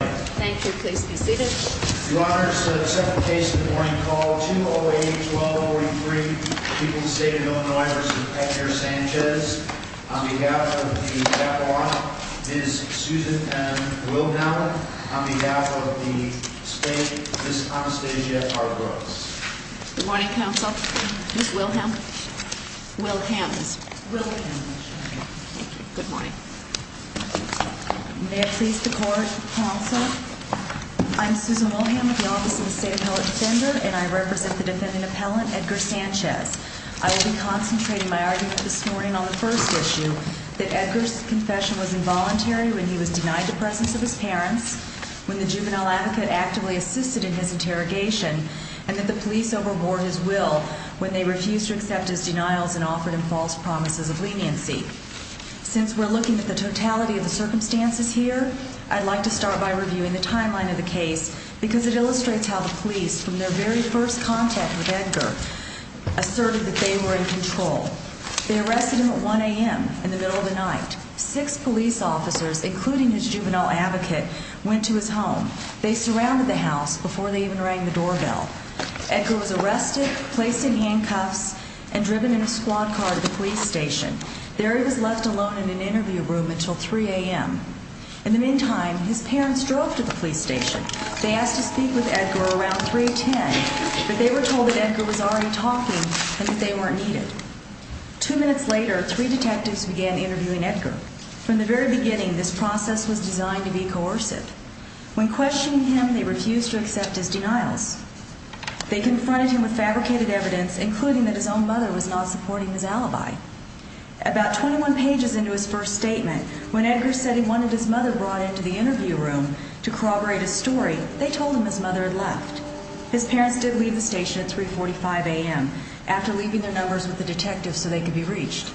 Thank you, please be seated. Your Honor, I accept the case of the morning call, 208-1243, People's State of Illinois v. Edgar Sanchez, on behalf of the Baccalaureate, Ms. Susan M. Wilhelm, on behalf of the State, Ms. Anastasia R. Brooks. Good morning, Counsel. Ms. Wilhelm? Wilhelms. Wilhelms. Wilhelms. Thank you. Good morning. May it please the Court, Counsel, I'm Susan Wilhelm with the Office of the State Appellate Defender, and I represent the defendant appellant, Edgar Sanchez. I will be concentrating my argument this morning on the first issue, that Edgar's confession was involuntary when he was denied the presence of his parents, when the juvenile advocate actively assisted in his interrogation, and that the police overbore his will when they refused to accept his denials and offered him false promises of leniency. Since we're looking at the totality of the circumstances here, I'd like to start by reviewing the timeline of the case because it illustrates how the police, from their very first contact with Edgar, asserted that they were in control. They arrested him at 1 a.m. in the middle of the night. Six police officers, including his juvenile advocate, went to his home. They surrounded the house before they even rang the doorbell. Edgar was arrested, placed in handcuffs, and driven in a squad car to the police station. There he was left alone in an interview room until 3 a.m. In the meantime, his parents drove to the police station. They asked to speak with Edgar around 310, but they were told that Edgar was already talking and that they weren't needed. Two minutes later, three detectives began interviewing Edgar. From the very beginning, this process was designed to be coercive. When questioning him, they refused to accept his denials. They confronted him with fabricated evidence, including that his own mother was not supporting his alibi. About 21 pages into his first statement, when Edgar said he wanted his mother brought into the interview room to corroborate his story, they told him his mother had left. His parents did leave the station at 3.45 a.m., after leaving their numbers with the detectives so they could be reached.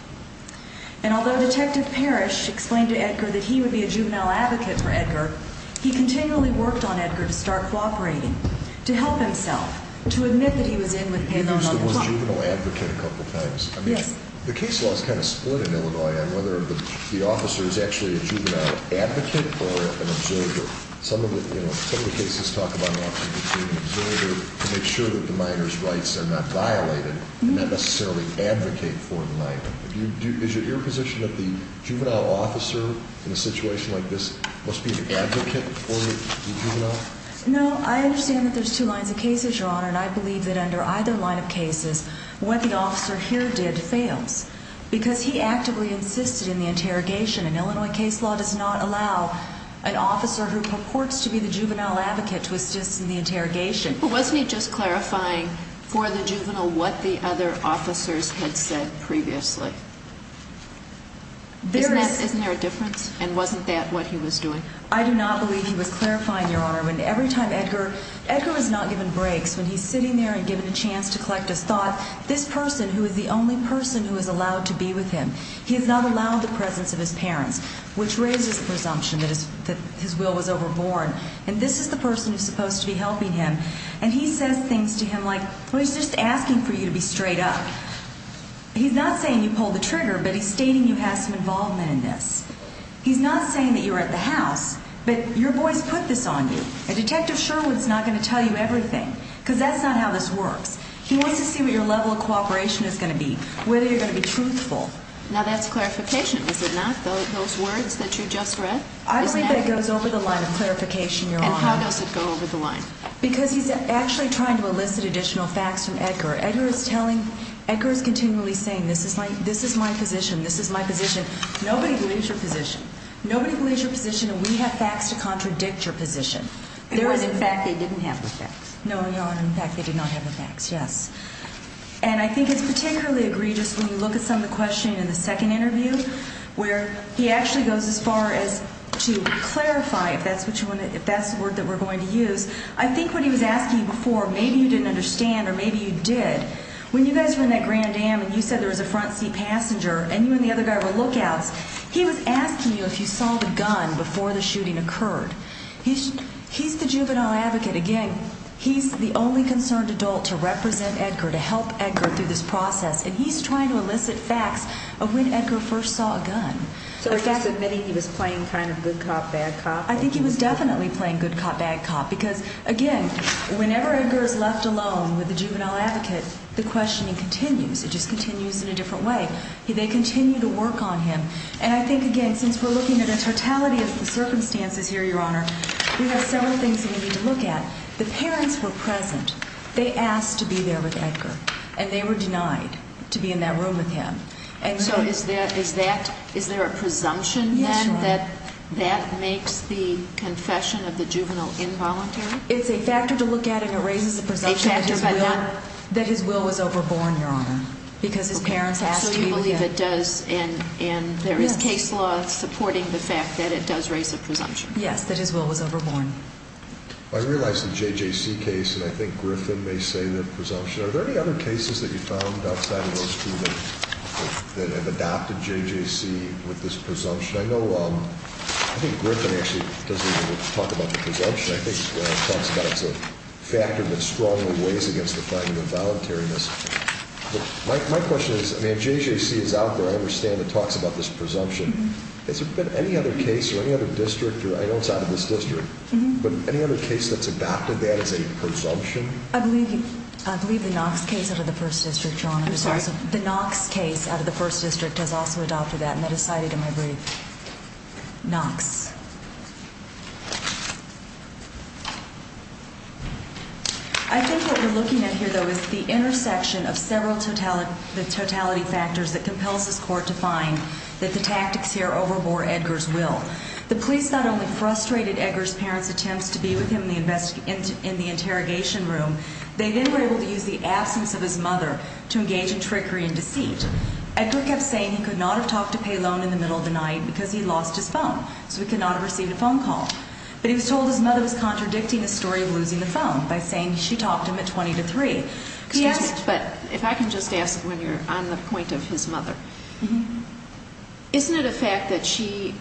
And although Detective Parrish explained to Edgar that he would be a juvenile advocate for Edgar, he continually worked on Edgar to start cooperating, to help himself, to admit that he was in with him on all the time. You used the word juvenile advocate a couple of times. Yes. The case law is kind of split in Illinois on whether the officer is actually a juvenile advocate or an observer. Some of the cases talk about an option between an observer to make sure that the minor's rights are not violated, and not necessarily advocate for the minor. Is it your position that the juvenile officer in a situation like this must be an advocate for the juvenile? No, I understand that there's two lines of cases, Your Honor, and I believe that under either line of cases what the officer here did fails, because he actively insisted in the interrogation, and Illinois case law does not allow an officer who purports to be the juvenile advocate to assist in the interrogation. But wasn't he just clarifying for the juvenile what the other officers had said previously? Isn't there a difference? And wasn't that what he was doing? I do not believe he was clarifying, Your Honor. Every time Edgar is not given breaks, when he's sitting there and given a chance to collect his thought, this person, who is the only person who is allowed to be with him, he has not allowed the presence of his parents, which raises the presumption that his will was overborne. And this is the person who is supposed to be helping him, and he says things to him like, well, he's just asking for you to be straight up. He's not saying you pulled the trigger, but he's stating you have some involvement in this. He's not saying that you're at the house, but your boys put this on you, and Detective Sherwood's not going to tell you everything, because that's not how this works. He wants to see what your level of cooperation is going to be, whether you're going to be truthful. Now, that's clarification, is it not, those words that you just read? I believe that goes over the line of clarification, Your Honor. And how does it go over the line? Because he's actually trying to elicit additional facts from Edgar. Edgar is continually saying, this is my position, this is my position. Nobody believes your position. Nobody believes your position, and we have facts to contradict your position. It wasn't facts. They didn't have the facts. No, Your Honor. In fact, they did not have the facts, yes. And I think it's particularly egregious when you look at some of the questioning in the second interview, where he actually goes as far as to clarify if that's the word that we're going to use. I think what he was asking before, maybe you didn't understand or maybe you did. When you guys were in that Grand Dam and you said there was a front seat passenger and you and the other guy were lookouts, he was asking you if you saw the gun before the shooting occurred. He's the juvenile advocate. Again, he's the only concerned adult to represent Edgar, to help Edgar through this process, and he's trying to elicit facts of when Edgar first saw a gun. So the fact that maybe he was playing kind of good cop, bad cop? I think he was definitely playing good cop, bad cop because, again, whenever Edgar is left alone with the juvenile advocate, the questioning continues. It just continues in a different way. They continue to work on him. And I think, again, since we're looking at a totality of the circumstances here, Your Honor, we have several things that we need to look at. The parents were present. They asked to be there with Edgar, and they were denied to be in that room with him. So is there a presumption then that that makes the confession of the juvenile involuntary? It's a factor to look at, and it raises a presumption that his will was overborne, Your Honor, because his parents asked to be with him. So you believe it does, and there is case law supporting the fact that it does raise a presumption. Yes, that his will was overborne. I realize the JJC case, and I think Griffin may say the presumption. Are there any other cases that you found outside of those two that have adopted JJC with this presumption? I think Griffin actually doesn't even talk about the presumption. I think he talks about it as a factor that strongly weighs against the finding of voluntariness. My question is, I mean, JJC is out there. I understand it talks about this presumption. Has there been any other case or any other district, or I know it's out of this district, but any other case that's adopted that as a presumption? I believe the Knox case out of the 1st District, Your Honor. I'm sorry? The Knox case out of the 1st District has also adopted that, and that is cited in my brief. Knox. I think what we're looking at here, though, is the intersection of several totality factors that compels this court to find that the tactics here overbore Edgar's will. The police not only frustrated Edgar's parents' attempts to be with him in the interrogation room, they then were able to use the absence of his mother to engage in trickery and deceit. Edgar kept saying he could not have talked to Palone in the middle of the night because he lost his phone, so he could not have received a phone call. But he was told his mother was contradicting the story of losing the phone by saying she talked to him at 20 to 3. Excuse me. But if I can just ask, when you're on the point of his mother, isn't it a fact that she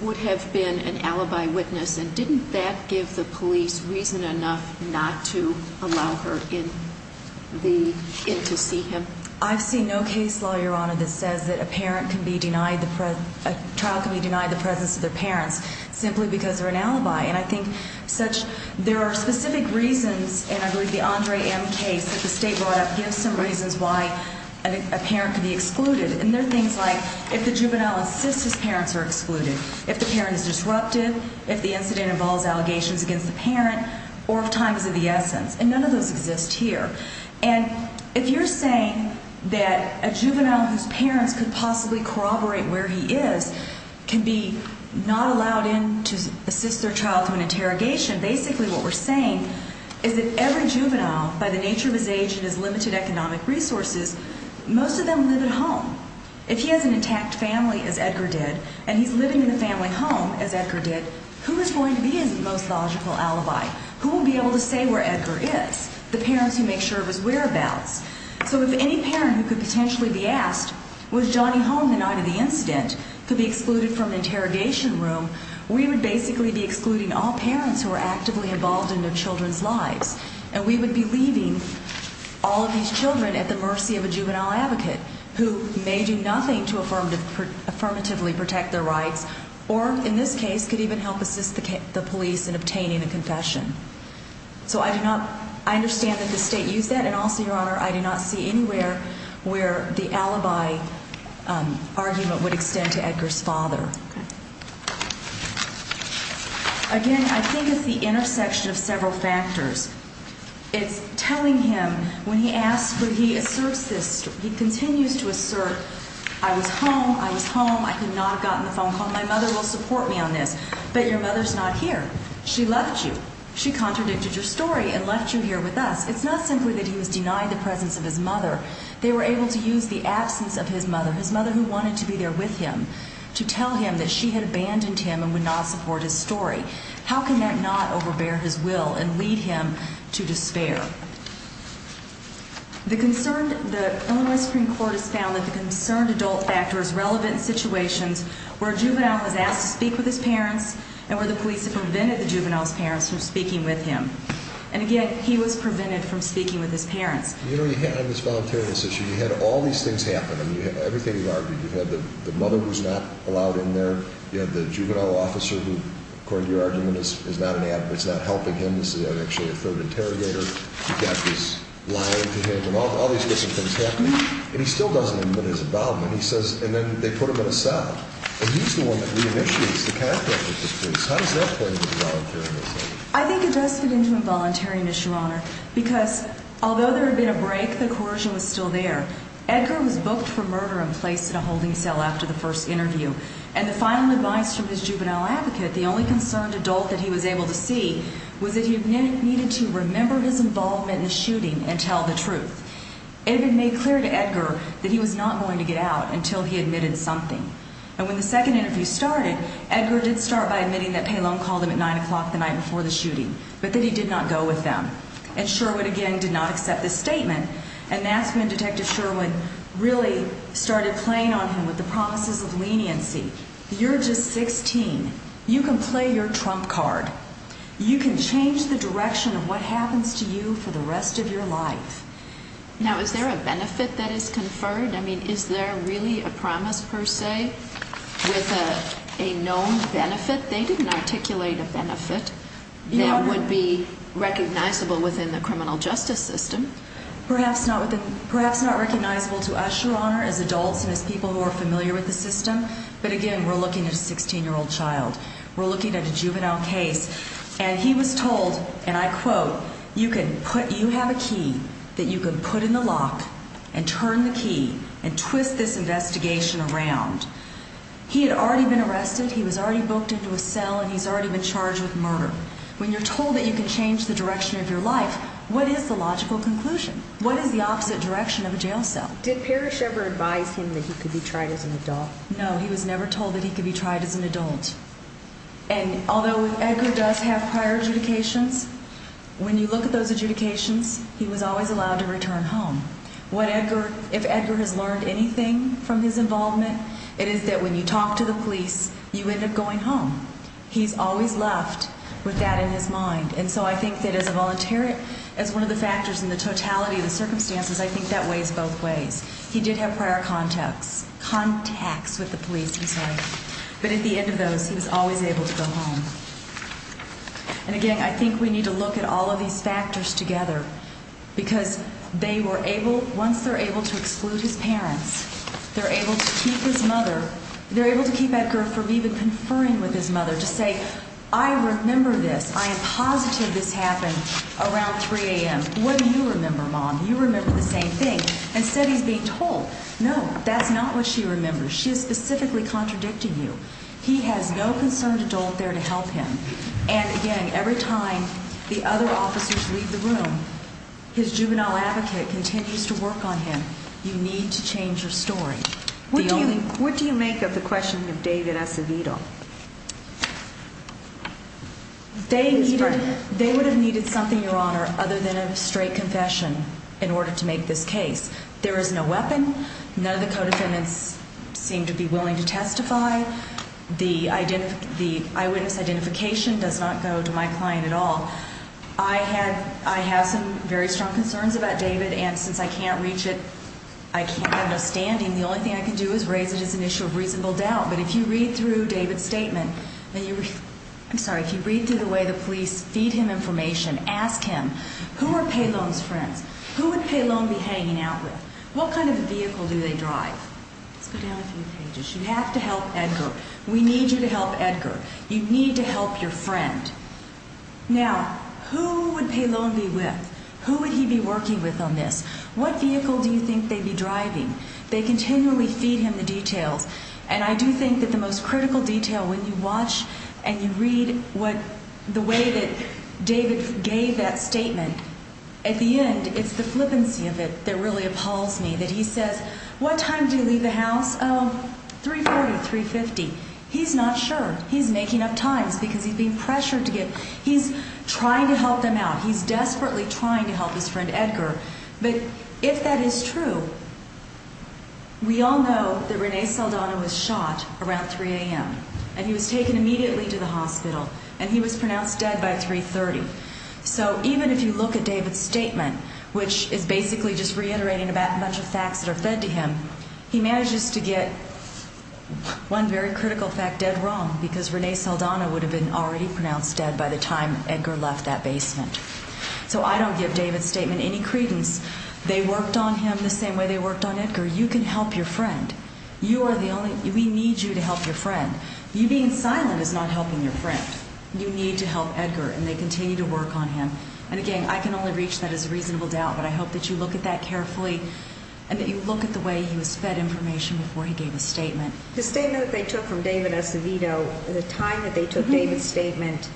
would have been an alibi witness, and didn't that give the police reason enough not to allow her in to see him? I've seen no case law, Your Honor, that says that a trial can be denied the presence of their parents simply because they're an alibi. And I think there are specific reasons, and I believe the Andre M. case that the State brought up gives some reasons why a parent could be excluded. And they're things like if the juvenile insists his parents are excluded, if the parent is disruptive, if the incident involves allegations against the parent, or if time is of the essence. And none of those exist here. And if you're saying that a juvenile whose parents could possibly corroborate where he is can be not allowed in to assist their child through an interrogation, basically what we're saying is that every juvenile, by the nature of his age and his limited economic resources, most of them live at home. If he has an intact family, as Edgar did, and he's living in the family home, as Edgar did, who is going to be his most logical alibi? Who will be able to say where Edgar is? The parents who make sure of his whereabouts. So if any parent who could potentially be asked, was Johnny home the night of the incident, could be excluded from an interrogation room, we would basically be excluding all parents who are actively involved in their children's lives. And we would be leaving all of these children at the mercy of a juvenile advocate who may do nothing to affirmatively protect their rights or, in this case, could even help assist the police in obtaining a confession. So I do not, I understand that the state used that, and also, Your Honor, I do not see anywhere where the alibi argument would extend to Edgar's father. Again, I think it's the intersection of several factors. It's telling him, when he asks, when he asserts this, he continues to assert, I was home, I was home, I could not have gotten the phone call, my mother will support me on this, but your mother's not here. She left you. She contradicted your story and left you here with us. It's not simply that he was denied the presence of his mother. They were able to use the absence of his mother, his mother who wanted to be there with him, to tell him that she had abandoned him and would not support his story. How can that not overbear his will and lead him to despair? The Illinois Supreme Court has found that the concerned adult factors where a juvenile was asked to speak with his parents and where the police have prevented the juvenile's parents from speaking with him. And again, he was prevented from speaking with his parents. You know, you had on this voluntariness issue, you had all these things happen. I mean, everything you've argued. You've had the mother who's not allowed in there. You had the juvenile officer who, according to your argument, is not helping him. This is actually a third interrogator. You've got this lying to him, and all these different things happen. And he still doesn't admit his involvement. He says, and then they put him in a cell. And he's the one that reinitiates the conflict with the police. How does that play into involuntariness? I think it does fit into involuntariness, Your Honor, because although there had been a break, the coercion was still there. Edgar was booked for murder and placed in a holding cell after the first interview. And the final advice from his juvenile advocate, the only concerned adult that he was able to see, was that he needed to remember his involvement in the shooting and tell the truth. It had been made clear to Edgar that he was not going to get out until he admitted something. And when the second interview started, Edgar did start by admitting that Pallone called him at 9 o'clock the night before the shooting, but that he did not go with them. And Sherwood, again, did not accept this statement. And that's when Detective Sherwood really started playing on him with the promises of leniency. You're just 16. You can play your trump card. You can change the direction of what happens to you for the rest of your life. Now, is there a benefit that is conferred? I mean, is there really a promise, per se, with a known benefit? They didn't articulate a benefit that would be recognizable within the criminal justice system. Perhaps not recognizable to us, Your Honor, as adults and as people who are familiar with the system. But, again, we're looking at a 16-year-old child. We're looking at a juvenile case. And he was told, and I quote, You have a key that you can put in the lock and turn the key and twist this investigation around. He had already been arrested. He was already booked into a cell, and he's already been charged with murder. When you're told that you can change the direction of your life, what is the logical conclusion? What is the opposite direction of a jail cell? Did Parrish ever advise him that he could be tried as an adult? No, he was never told that he could be tried as an adult. And although Edgar does have prior adjudications, when you look at those adjudications, he was always allowed to return home. If Edgar has learned anything from his involvement, it is that when you talk to the police, you end up going home. He's always left with that in his mind. And so I think that as a volunteer, as one of the factors in the totality of the circumstances, I think that weighs both ways. He did have prior contacts with the police. But at the end of those, he was always able to go home. And again, I think we need to look at all of these factors together, because once they're able to exclude his parents, they're able to keep Edgar from even conferring with his mother to say, I remember this. I am positive this happened around 3 a.m. What do you remember, Mom? You remember the same thing. Instead, he's being told, no, that's not what she remembers. She is specifically contradicting you. He has no concerned adult there to help him. And again, every time the other officers leave the room, his juvenile advocate continues to work on him. You need to change your story. What do you make of the question of David Acevedo? They would have needed something, Your Honor, other than a straight confession in order to make this case. There is no weapon. None of the co-defendants seem to be willing to testify. The eyewitness identification does not go to my client at all. I have some very strong concerns about David. And since I can't reach it, I can't have no standing. The only thing I can do is raise it as an issue of reasonable doubt. But if you read through David's statement, I'm sorry, if you read through the way the police feed him information, ask him, who are Pailone's friends? Who would Pailone be hanging out with? What kind of a vehicle do they drive? Let's go down a few pages. You have to help Edgar. We need you to help Edgar. You need to help your friend. Now, who would Pailone be with? Who would he be working with on this? What vehicle do you think they'd be driving? They continually feed him the details. And I do think that the most critical detail, when you watch and you read the way that David gave that statement, at the end, it's the flippancy of it that really appalls me, that he says, what time do you leave the house? Oh, 340, 350. He's not sure. He's making up times because he's being pressured to give. He's trying to help them out. He's desperately trying to help his friend Edgar. But if that is true, we all know that Rene Saldana was shot around 3 a.m., and he was taken immediately to the hospital, and he was pronounced dead by 3.30. So even if you look at David's statement, which is basically just reiterating a bunch of facts that are fed to him, he manages to get one very critical fact dead wrong, because Rene Saldana would have been already pronounced dead by the time Edgar left that basement. So I don't give David's statement any credence. They worked on him the same way they worked on Edgar. You can help your friend. You are the only one. We need you to help your friend. You being silent is not helping your friend. You need to help Edgar, and they continue to work on him. And, again, I can only reach that as a reasonable doubt, but I hope that you look at that carefully and that you look at the way he was fed information before he gave a statement. The statement that they took from David Acevedo, the time that they took David's statement,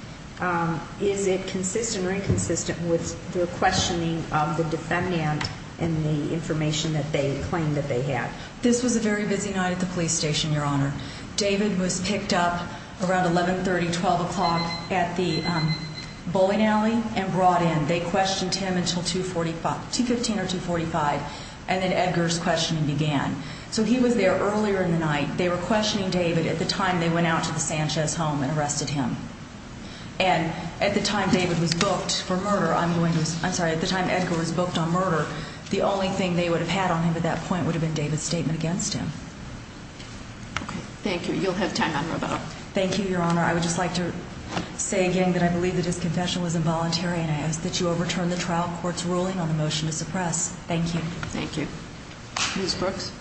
is it consistent or inconsistent with the questioning of the defendant and the information that they claimed that they had? This was a very busy night at the police station, Your Honor. David was picked up around 11.30, 12 o'clock at the bowling alley and brought in. They questioned him until 2.15 or 2.45, and then Edgar's questioning began. So he was there earlier in the night. They were questioning David at the time they went out to the Sanchez home and arrested him. And at the time David was booked for murder, I'm going to say, I'm sorry, at the time Edgar was booked on murder, the only thing they would have had on him at that point would have been David's statement against him. Okay. Thank you. You'll have time on Roboto. Thank you, Your Honor. I would just like to say again that I believe that his confession was involuntary, and I ask that you overturn the trial court's ruling on the motion to suppress. Thank you. Thank you. Ms. Brooks.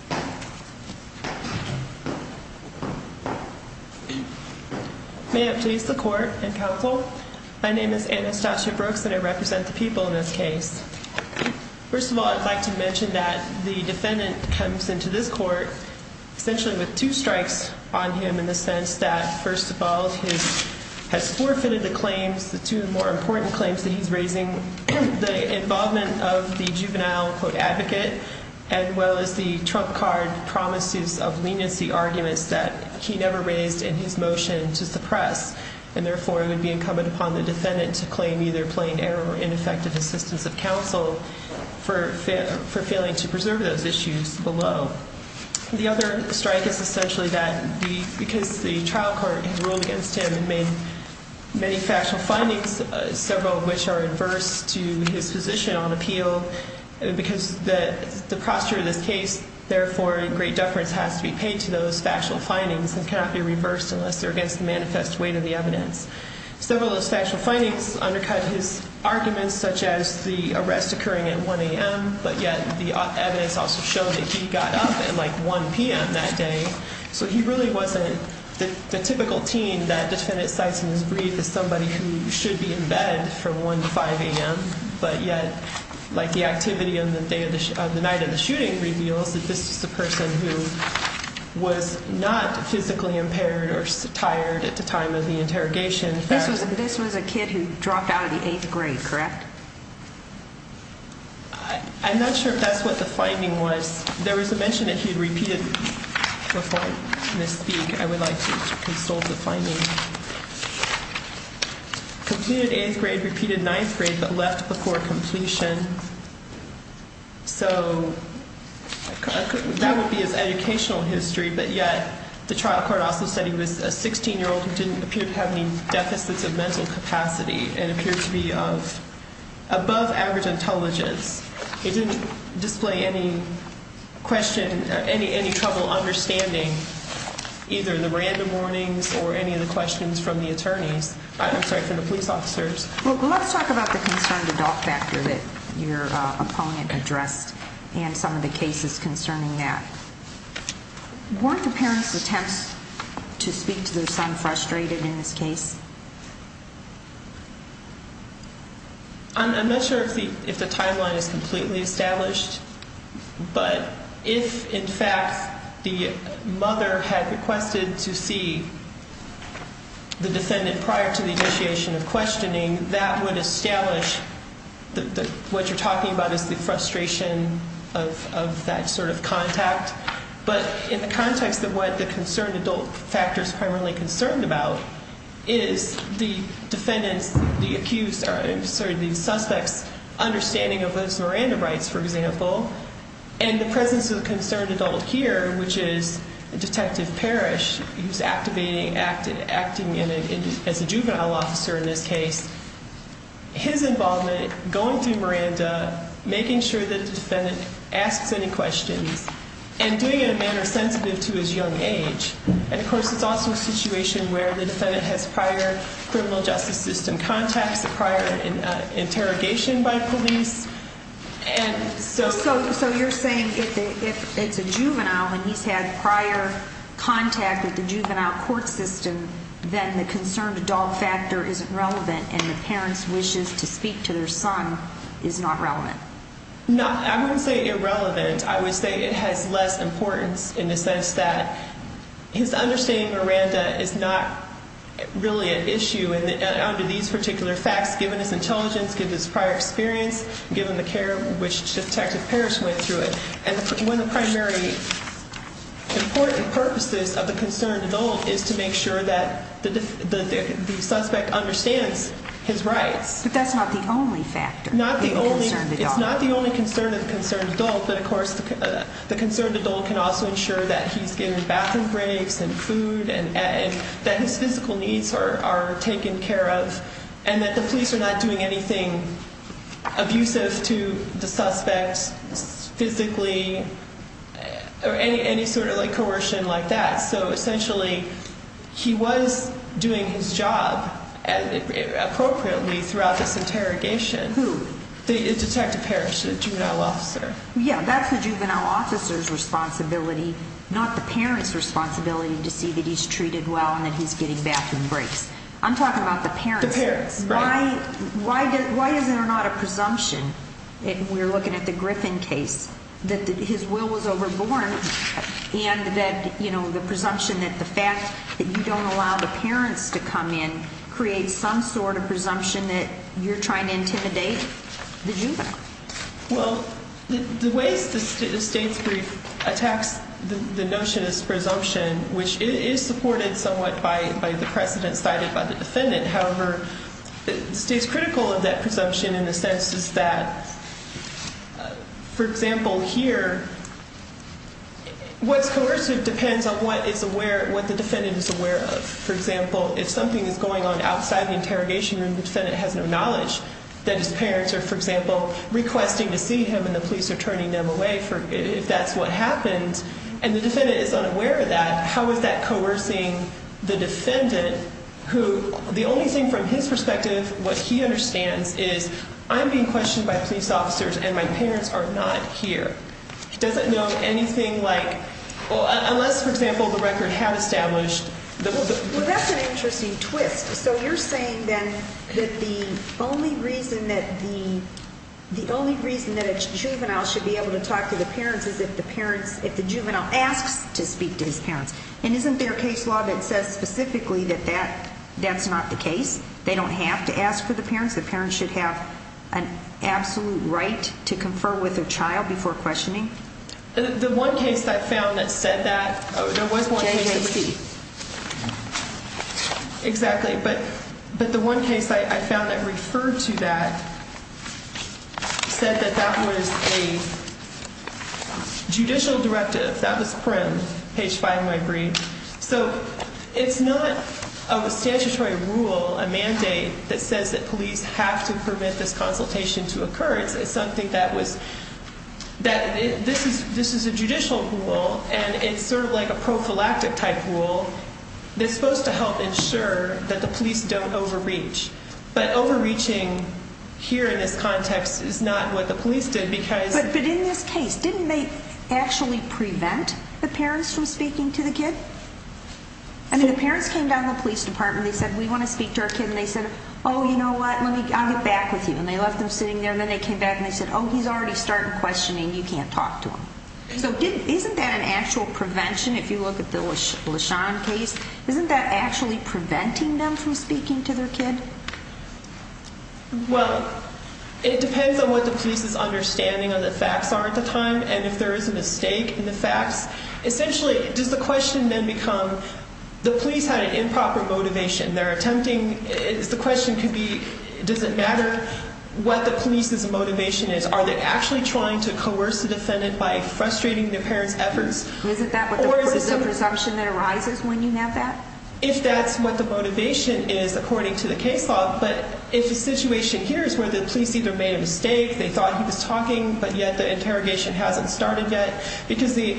May it please the court and counsel, my name is Anastasia Brooks, and I represent the people in this case. First of all, I'd like to mention that the defendant comes into this court essentially with two strikes on him in the sense that, first of all, he has forfeited the claims, the two more important claims that he's raising. The involvement of the juvenile, quote, advocate, as well as the trump card promises of leniency arguments that he never raised in his motion to suppress, and therefore it would be incumbent upon the defendant to claim either plain error or ineffective assistance of counsel for failing to preserve those issues below. The other strike is essentially that because the trial court ruled against him and made many factual findings, several of which are adverse to his position on appeal, because the posture of this case, therefore, great deference has to be paid to those factual findings and cannot be reversed unless they're against the manifest weight of the evidence. Several of those factual findings undercut his arguments, such as the arrest occurring at 1 a.m., but yet the evidence also showed that he got up at, like, 1 p.m. that day, so he really wasn't the typical teen that defendant cites in his brief as somebody who should be in bed from 1 to 5 a.m., but yet, like, the activity on the night of the shooting reveals that this is a person who was not physically impaired or tired at the time of the interrogation. This was a kid who dropped out of the eighth grade, correct? I'm not sure if that's what the finding was. There was a mention that he had repeated, before I misspeak, I would like to consult the finding. Completed eighth grade, repeated ninth grade, but left before completion. So that would be his educational history, but yet the trial court also said he was a 16-year-old who didn't appear to have any deficits of mental capacity and appeared to be of above-average intelligence. It didn't display any trouble understanding either the random warnings or any of the questions from the police officers. Well, let's talk about the concerned adult factor that your opponent addressed and some of the cases concerning that. Weren't the parents' attempts to speak to their son frustrated in this case? I'm not sure if the timeline is completely established, but if, in fact, the mother had requested to see the defendant prior to the initiation of questioning, that would establish that what you're talking about is the frustration of that sort of contact, but in the context of what the concerned adult factor is primarily concerned about is the defendant's, the accused's, sorry, the suspect's understanding of his Miranda rights, for example, and the presence of the concerned adult here, which is Detective Parrish, who's activating, acting as a juvenile officer in this case, his involvement going through Miranda, making sure that the defendant asks any questions, and doing it in a manner sensitive to his young age. And, of course, it's also a situation where the defendant has prior criminal justice system contacts, a prior interrogation by police, and so... So you're saying if it's a juvenile and he's had prior contact with the juvenile court system, then the concerned adult factor isn't relevant and the parents' wishes to speak to their son is not relevant? No, I wouldn't say irrelevant. I would say it has less importance in the sense that his understanding of Miranda is not really an issue under these particular facts, given his intelligence, given his prior experience, given the care in which Detective Parrish went through it. And one of the primary important purposes of the concerned adult is to make sure that the suspect understands his rights. But that's not the only factor. It's not the only concern of the concerned adult, but, of course, the concerned adult can also ensure that he's given bathroom breaks and food and that his physical needs are taken care of and that the police are not doing anything abusive to the suspect physically or any sort of coercion like that. So, essentially, he was doing his job appropriately throughout this interrogation. Who? Detective Parrish, the juvenile officer. Yeah, that's the juvenile officer's responsibility, not the parent's responsibility, to see that he's treated well and that he's getting bathroom breaks. I'm talking about the parents. The parents, right. Why is there not a presumption, if we're looking at the Griffin case, that his will was overborne and that the presumption that the fact that you don't allow the parents to come in and that you're trying to intimidate the juvenile? Well, the way the state's brief attacks the notion of presumption, which is supported somewhat by the precedent cited by the defendant, however, it stays critical of that presumption in the sense that, for example, here, what's coercive depends on what the defendant is aware of. For example, if something is going on outside the interrogation room, the defendant has no knowledge that his parents are, for example, requesting to see him and the police are turning them away if that's what happened, and the defendant is unaware of that, how is that coercing the defendant who, the only thing from his perspective, what he understands is, I'm being questioned by police officers and my parents are not here. He doesn't know anything like, unless, for example, the record had established Well, that's an interesting twist. So you're saying then that the only reason that a juvenile should be able to talk to the parents is if the parents, if the juvenile asks to speak to his parents, and isn't there a case law that says specifically that that's not the case? They don't have to ask for the parents. The parents should have an absolute right to confer with their child before questioning? The one case I found that said that, there was one case. JJC. Exactly. But the one case I found that referred to that said that that was a judicial directive. That was prim, page 5 of my brief. So it's not a statutory rule, a mandate, that says that police have to permit this consultation to occur. It's something that was, this is a judicial rule, and it's sort of like a prophylactic type rule that's supposed to help ensure that the police don't overreach. But overreaching here in this context is not what the police did because But in this case, didn't they actually prevent the parents from speaking to the kid? I mean, the parents came down to the police department and they said, we want to speak to our kid, and they said, oh, you know what, I'll get back with you. And they left him sitting there, and then they came back and they said, oh, he's already started questioning, you can't talk to him. So isn't that an actual prevention, if you look at the LaShawn case? Isn't that actually preventing them from speaking to their kid? Well, it depends on what the police's understanding of the facts are at the time, and if there is a mistake in the facts. Essentially, does the question then become, the police had an improper motivation, they're attempting, the question could be, does it matter what the police's motivation is? Are they actually trying to coerce the defendant by frustrating their parents' efforts? Isn't that what the presumption that arises when you have that? If that's what the motivation is, according to the case law, but if the situation here is where the police either made a mistake, they thought he was talking, but yet the interrogation hasn't started yet, because the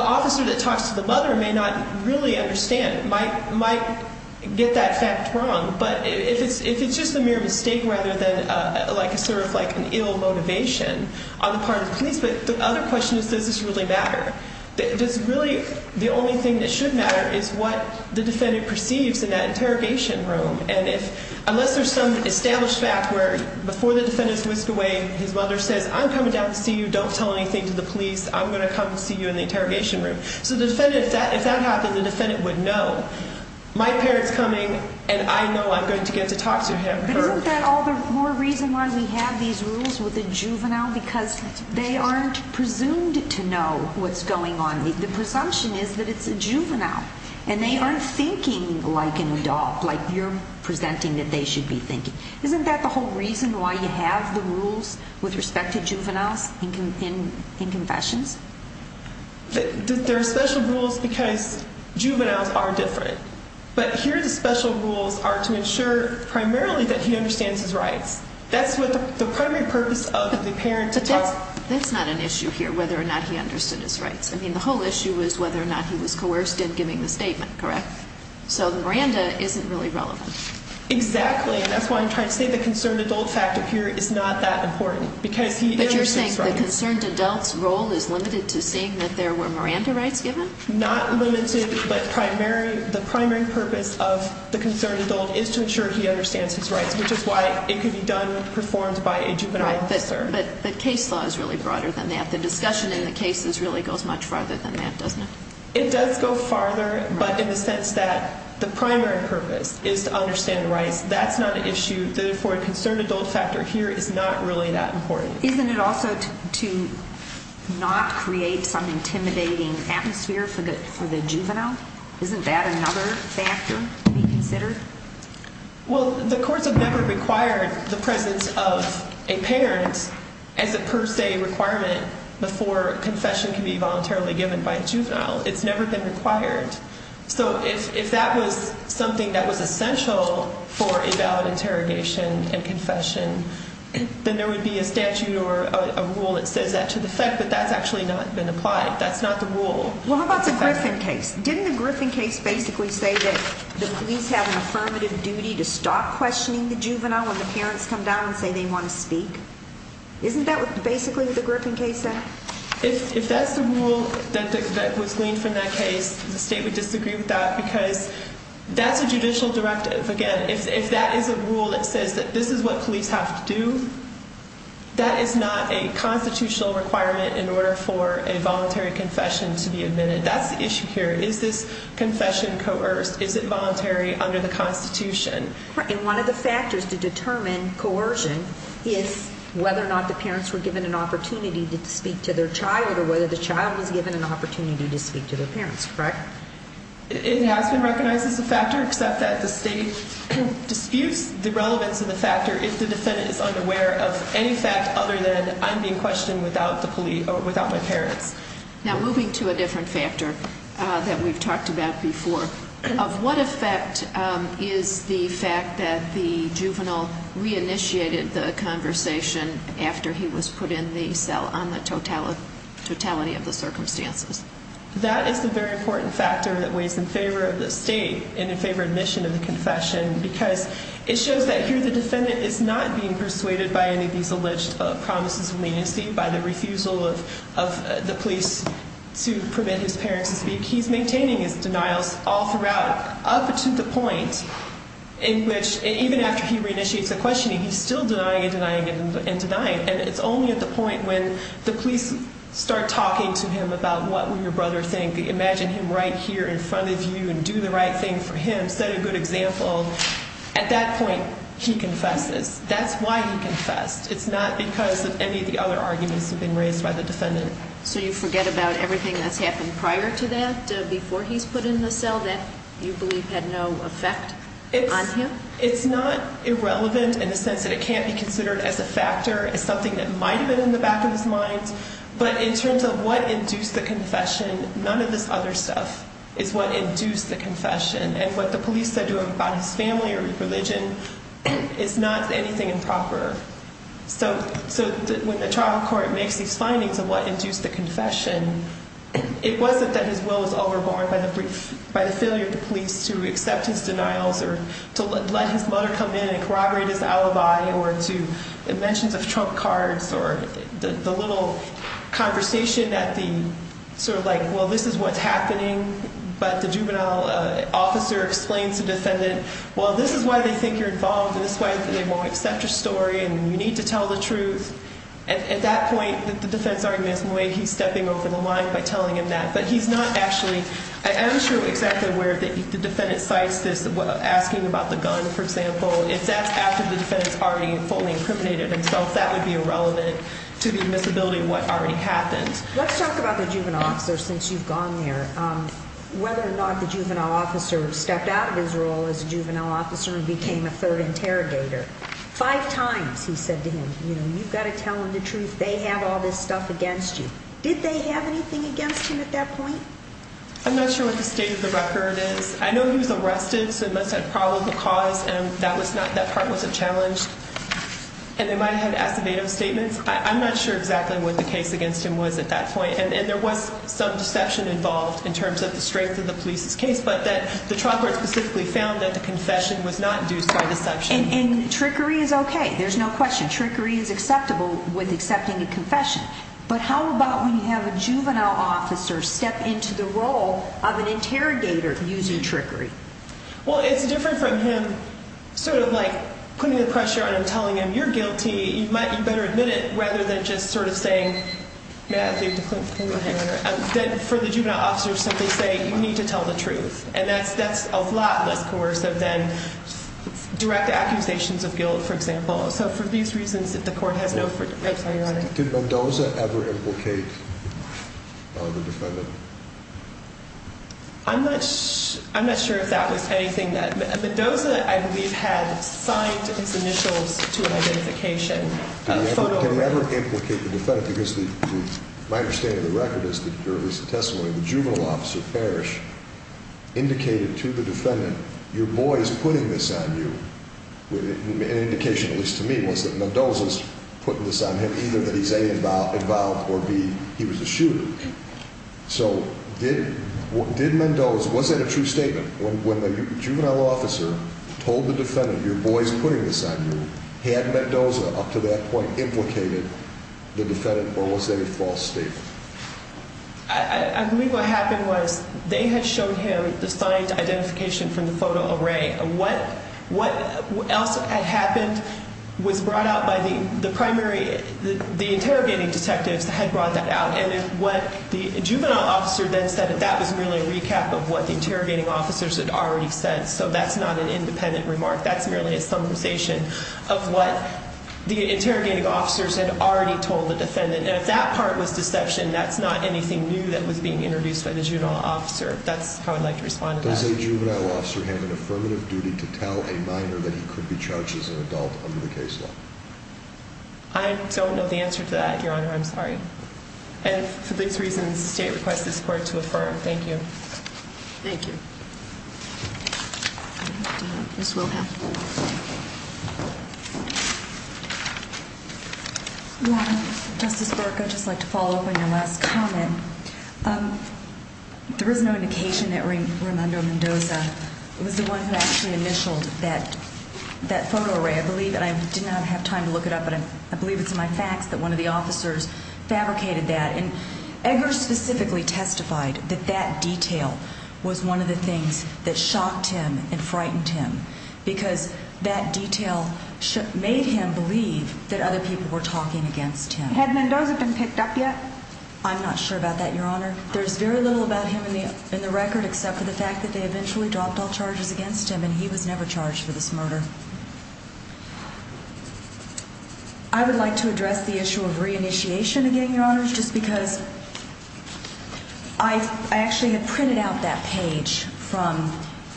officer that talks to the mother may not really understand, might get that fact wrong. But if it's just a mere mistake rather than an ill motivation on the part of the police, but the other question is, does this really matter? Does really, the only thing that should matter is what the defendant perceives in that interrogation room. Unless there's some established fact where before the defendant's whisked away, his mother says, I'm coming down to see you, don't tell anything to the police, I'm going to come see you in the interrogation room. So the defendant, if that happened, the defendant would know. My parent's coming and I know I'm going to get to talk to him. But isn't that all the more reason why we have these rules with the juvenile? Because they aren't presumed to know what's going on. The presumption is that it's a juvenile, and they aren't thinking like an adult, like you're presenting that they should be thinking. Isn't that the whole reason why you have the rules with respect to juveniles in confessions? There are special rules because juveniles are different. But here the special rules are to ensure primarily that he understands his rights. That's the primary purpose of the parent to talk. But that's not an issue here, whether or not he understood his rights. I mean, the whole issue is whether or not he was coerced in giving the statement, correct? So Miranda isn't really relevant. Exactly, and that's why I'm trying to say the concerned adult factor here is not that important, because he understands his rights. The concerned adult's role is limited to seeing that there were Miranda rights given? Not limited, but the primary purpose of the concerned adult is to ensure he understands his rights, which is why it could be done performed by a juvenile officer. But the case law is really broader than that. The discussion in the cases really goes much farther than that, doesn't it? It does go farther, but in the sense that the primary purpose is to understand rights. That's not an issue. Therefore, a concerned adult factor here is not really that important. Isn't it also to not create some intimidating atmosphere for the juvenile? Isn't that another factor to be considered? Well, the courts have never required the presence of a parent as a per se requirement before confession can be voluntarily given by a juvenile. It's never been required. So if that was something that was essential for a valid interrogation and confession, then there would be a statute or a rule that says that to the effect, but that's actually not been applied. That's not the rule. Well, how about the Griffin case? Didn't the Griffin case basically say that the police have an affirmative duty to stop questioning the juvenile when the parents come down and say they want to speak? Isn't that basically what the Griffin case said? If that's the rule that was gleaned from that case, the state would disagree with that, because that's a judicial directive. Again, if that is a rule that says that this is what police have to do, that is not a constitutional requirement in order for a voluntary confession to be admitted. That's the issue here. Is this confession coerced? Is it voluntary under the Constitution? And one of the factors to determine coercion is whether or not the parents were given an opportunity to speak to their child or whether the child was given an opportunity to speak to their parents, correct? It has been recognized as a factor, except that the state disputes the relevance of the factor if the defendant is unaware of any fact other than I'm being questioned without my parents. Now, moving to a different factor that we've talked about before, of what effect is the fact that the juvenile re-initiated the conversation after he was put in the cell on the totality of the circumstances? That is the very important factor that weighs in favor of the state and in favor of admission of the confession, because it shows that here the defendant is not being persuaded by any of these alleged promises of leniency, by the refusal of the police to permit his parents to speak. He's maintaining his denials all throughout up to the point in which, even after he re-initiates the questioning, he's still denying and denying and denying, and it's only at the point when the police start talking to him about what would your brother think, imagine him right here in front of you and do the right thing for him, set a good example, at that point he confesses. That's why he confessed. It's not because of any of the other arguments that have been raised by the defendant. So you forget about everything that's happened prior to that, before he's put in the cell, that you believe had no effect on him? It's not irrelevant in the sense that it can't be considered as a factor, as something that might have been in the back of his mind, but in terms of what induced the confession, none of this other stuff is what induced the confession. And what the police said to him about his family or religion is not anything improper. So when the trial court makes these findings of what induced the confession, it wasn't that his will was overborne by the failure of the police to accept his denials or to let his mother come in and corroborate his alibi or to mentions of trump cards or the little conversation that the sort of like, well, this is what's happening, but the juvenile officer explains to the defendant, well, this is why they think you're involved, this is why they won't accept your story and you need to tell the truth. At that point, the defense argument is in a way he's stepping over the line by telling him that. But he's not actually, I'm not sure exactly where the defendant cites this, asking about the gun, for example. If that's after the defendant's already fully incriminated himself, that would be irrelevant to the admissibility of what already happened. Let's talk about the juvenile officer since you've gone there, whether or not the juvenile officer stepped out of his role as a juvenile officer and became a third interrogator. Five times he said to him, you've got to tell them the truth, they have all this stuff against you. Did they have anything against him at that point? I'm not sure what the state of the record is. I know he was arrested, so it must have had probable cause and that part wasn't challenged. And they might have had asservative statements. I'm not sure exactly what the case against him was at that point. And there was some deception involved in terms of the strength of the police's case, but the trump card specifically found that the confession was not induced by deception. And trickery is okay, there's no question. And trickery is acceptable with accepting a confession. But how about when you have a juvenile officer step into the role of an interrogator using trickery? Well, it's different from him sort of like putting the pressure on him, telling him you're guilty, you might better admit it, rather than just sort of saying, Matthew, come over here, then for the juvenile officer to simply say, you need to tell the truth. And that's a lot less coercive than direct accusations of guilt, for example. So for these reasons, if the court has no further— I'm sorry, Your Honor. Did Mendoza ever implicate the defendant? I'm not sure if that was anything that—Mendoza, I believe, had signed his initials to an identification. Did he ever implicate the defendant? Because my understanding of the record is that there was a testimony of the juvenile officer, Parrish, indicated to the defendant, your boy is putting this on you. An indication, at least to me, was that Mendoza is putting this on him, either that he's, A, involved, or, B, he was a shooter. So did Mendoza—was that a true statement? When the juvenile officer told the defendant, your boy is putting this on you, had Mendoza up to that point implicated the defendant, or was that a false statement? I believe what happened was they had shown him the signed identification from the photo array. What else had happened was brought out by the primary—the interrogating detectives had brought that out. And what the juvenile officer then said, that was merely a recap of what the interrogating officers had already said. So that's not an independent remark. That's merely a summarization of what the interrogating officers had already told the defendant. And if that part was deception, that's not anything new that was being introduced by the juvenile officer. That's how I'd like to respond to that. Does a juvenile officer have an affirmative duty to tell a minor that he could be charged as an adult under the case law? I don't know the answer to that, Your Honor. I'm sorry. And for these reasons, the State requests this Court to affirm. Thank you. Thank you. This will have to wait. Your Honor, Justice Burke, I'd just like to follow up on your last comment. There is no indication that Raimundo Mendoza was the one who actually initialed that photo array, I believe. And I did not have time to look it up, but I believe it's in my facts that one of the officers fabricated that. And Eggers specifically testified that that detail was one of the things that shocked him and frightened him because that detail made him believe that other people were talking against him. Had Mendoza been picked up yet? I'm not sure about that, Your Honor. There's very little about him in the record except for the fact that they eventually dropped all charges against him, and he was never charged for this murder. I would like to address the issue of reinitiation again, Your Honor, just because I actually had printed out that page from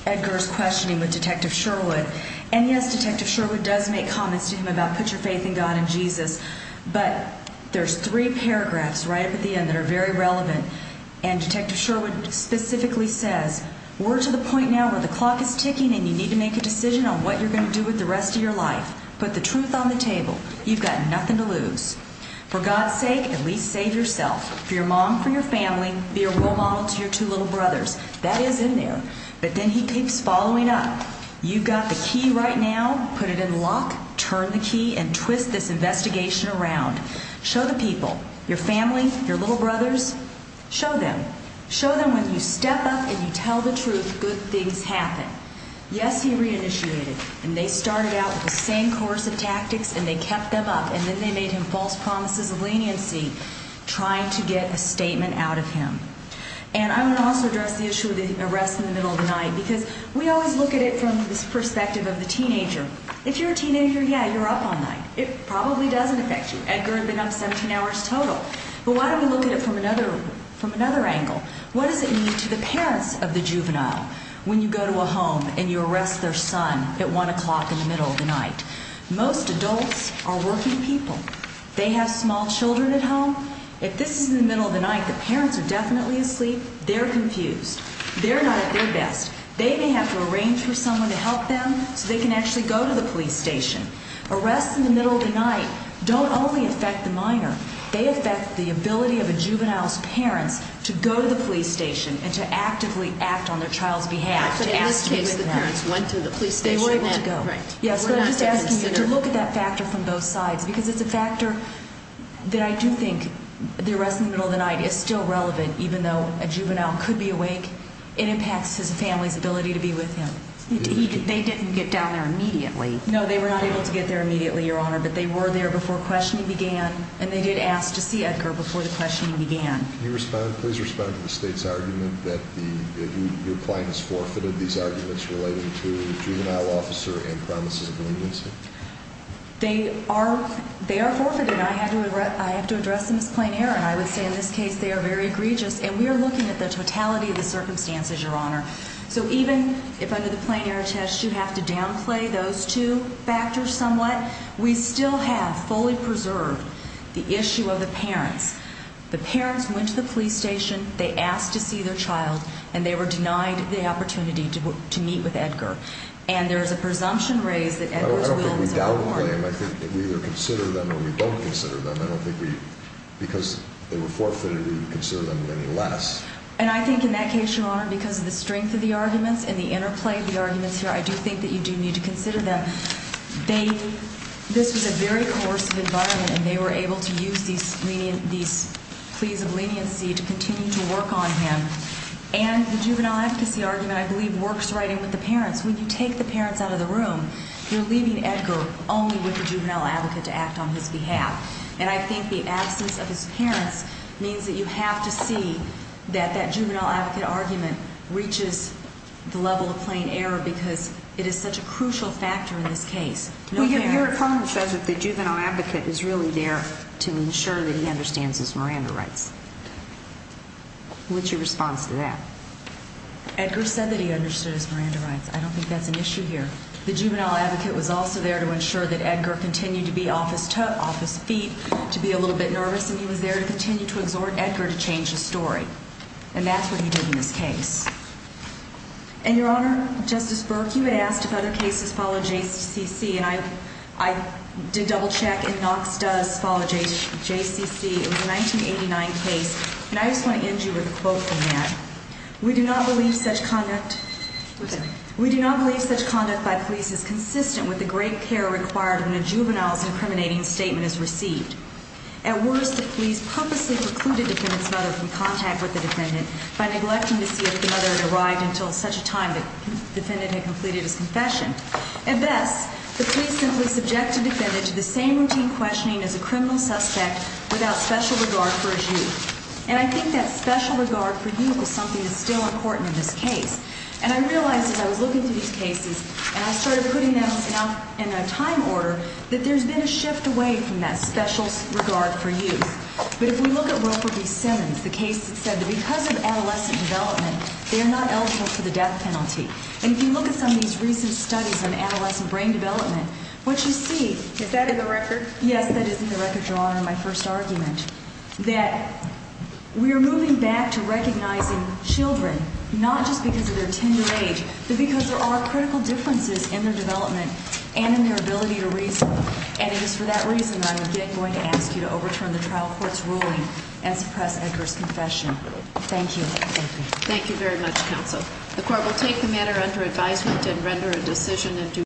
Eggers' questioning with Detective Sherwood. And yes, Detective Sherwood does make comments to him about put your faith in God and Jesus, but there's three paragraphs right up at the end that are very relevant. And Detective Sherwood specifically says, We're to the point now where the clock is ticking and you need to make a decision on what you're going to do with the rest of your life. Put the truth on the table. You've got nothing to lose. For God's sake, at least save yourself. For your mom, for your family, be a role model to your two little brothers. That is in there. But then he keeps following up. You've got the key right now. Put it in lock, turn the key, and twist this investigation around. Show the people, your family, your little brothers, show them. Show them when you step up and you tell the truth, good things happen. Yes, he reinitiated. And they started out with the same course of tactics and they kept them up, and then they made him false promises of leniency trying to get a statement out of him. And I want to also address the issue of the arrest in the middle of the night because we always look at it from the perspective of the teenager. If you're a teenager, yeah, you're up all night. It probably doesn't affect you. Eggers had been up 17 hours total. But why don't we look at it from another angle? What does it mean to the parents of the juvenile when you go to a home and you arrest their son at 1 o'clock in the middle of the night? Most adults are working people. They have small children at home. If this is in the middle of the night, the parents are definitely asleep. They're confused. They're not at their best. They may have to arrange for someone to help them so they can actually go to the police station. Arrests in the middle of the night don't only affect the minor. They affect the ability of a juvenile's parents to go to the police station and to actively act on their child's behalf. In this case, the parents went to the police station. They were able to go. Yes, but I'm just asking you to look at that factor from both sides because it's a factor that I do think the arrest in the middle of the night is still relevant even though a juvenile could be awake. It impacts his family's ability to be with him. They didn't get down there immediately. No, they were not able to get there immediately, Your Honor, but they were there before questioning began, and they did ask to see Edgar before the questioning began. Can you please respond to the state's argument that your client has forfeited these arguments relating to the juvenile officer and promises of leniency? They are forfeited. I have to address them as plain error, and I would say in this case they are very egregious, and we are looking at the totality of the circumstances, Your Honor. So even if under the plain error test you have to downplay those two factors somewhat, we still have fully preserved the issue of the parents. The parents went to the police station, they asked to see their child, and they were denied the opportunity to meet with Edgar. And there is a presumption raised that Edgar's will is unlawful. I don't think we downplay them. I think that we either consider them or we don't consider them. I don't think we, because they were forfeited, we would consider them any less. And I think in that case, Your Honor, because of the strength of the arguments and the interplay of the arguments here, I do think that you do need to consider them. This was a very coercive environment, and they were able to use these pleas of leniency to continue to work on him. And the juvenile advocacy argument, I believe, works right in with the parents. When you take the parents out of the room, you're leaving Edgar only with the juvenile advocate to act on his behalf. And I think the absence of his parents means that you have to see that that juvenile advocate argument reaches the level of plain error because it is such a crucial factor in this case. Your opponent says that the juvenile advocate is really there to ensure that he understands his Miranda rights. What's your response to that? Edgar said that he understood his Miranda rights. I don't think that's an issue here. The juvenile advocate was also there to ensure that Edgar continued to be off his feet, to be a little bit nervous, and he was there to continue to exhort Edgar to change his story. And that's what he did in this case. And, Your Honor, Justice Burke, you had asked if other cases follow JCCC, and I did double-check, and Knox does follow JCCC. It was a 1989 case, and I just want to end you with a quote from that. We do not believe such conduct by police is consistent with the great care required when a juvenile's incriminating statement is received. At worst, the police purposely precluded the defendant's mother from contact with the defendant by neglecting to see if the mother had arrived until such a time that the defendant had completed his confession. At best, the police simply subjected the defendant to the same routine questioning as a criminal suspect without special regard for his youth. And I think that special regard for youth is something that's still important in this case. And I realized as I was looking through these cases, and I started putting them out in a time order, that there's been a shift away from that special regard for youth. But if we look at Rupert B. Simmons, the case that said that because of adolescent development, they are not eligible for the death penalty. And if you look at some of these recent studies on adolescent brain development, what you see – Is that in the record? Yes, that is in the record, Your Honor, in my first argument. That we are moving back to recognizing children, not just because of their tenured age, but because there are critical differences in their development and in their ability to reason. And it is for that reason that I am again going to ask you to overturn the trial court's ruling and suppress Edgar's confession. Thank you. Thank you. Thank you very much, counsel. The court will take the matter under advisement and render a decision in due course.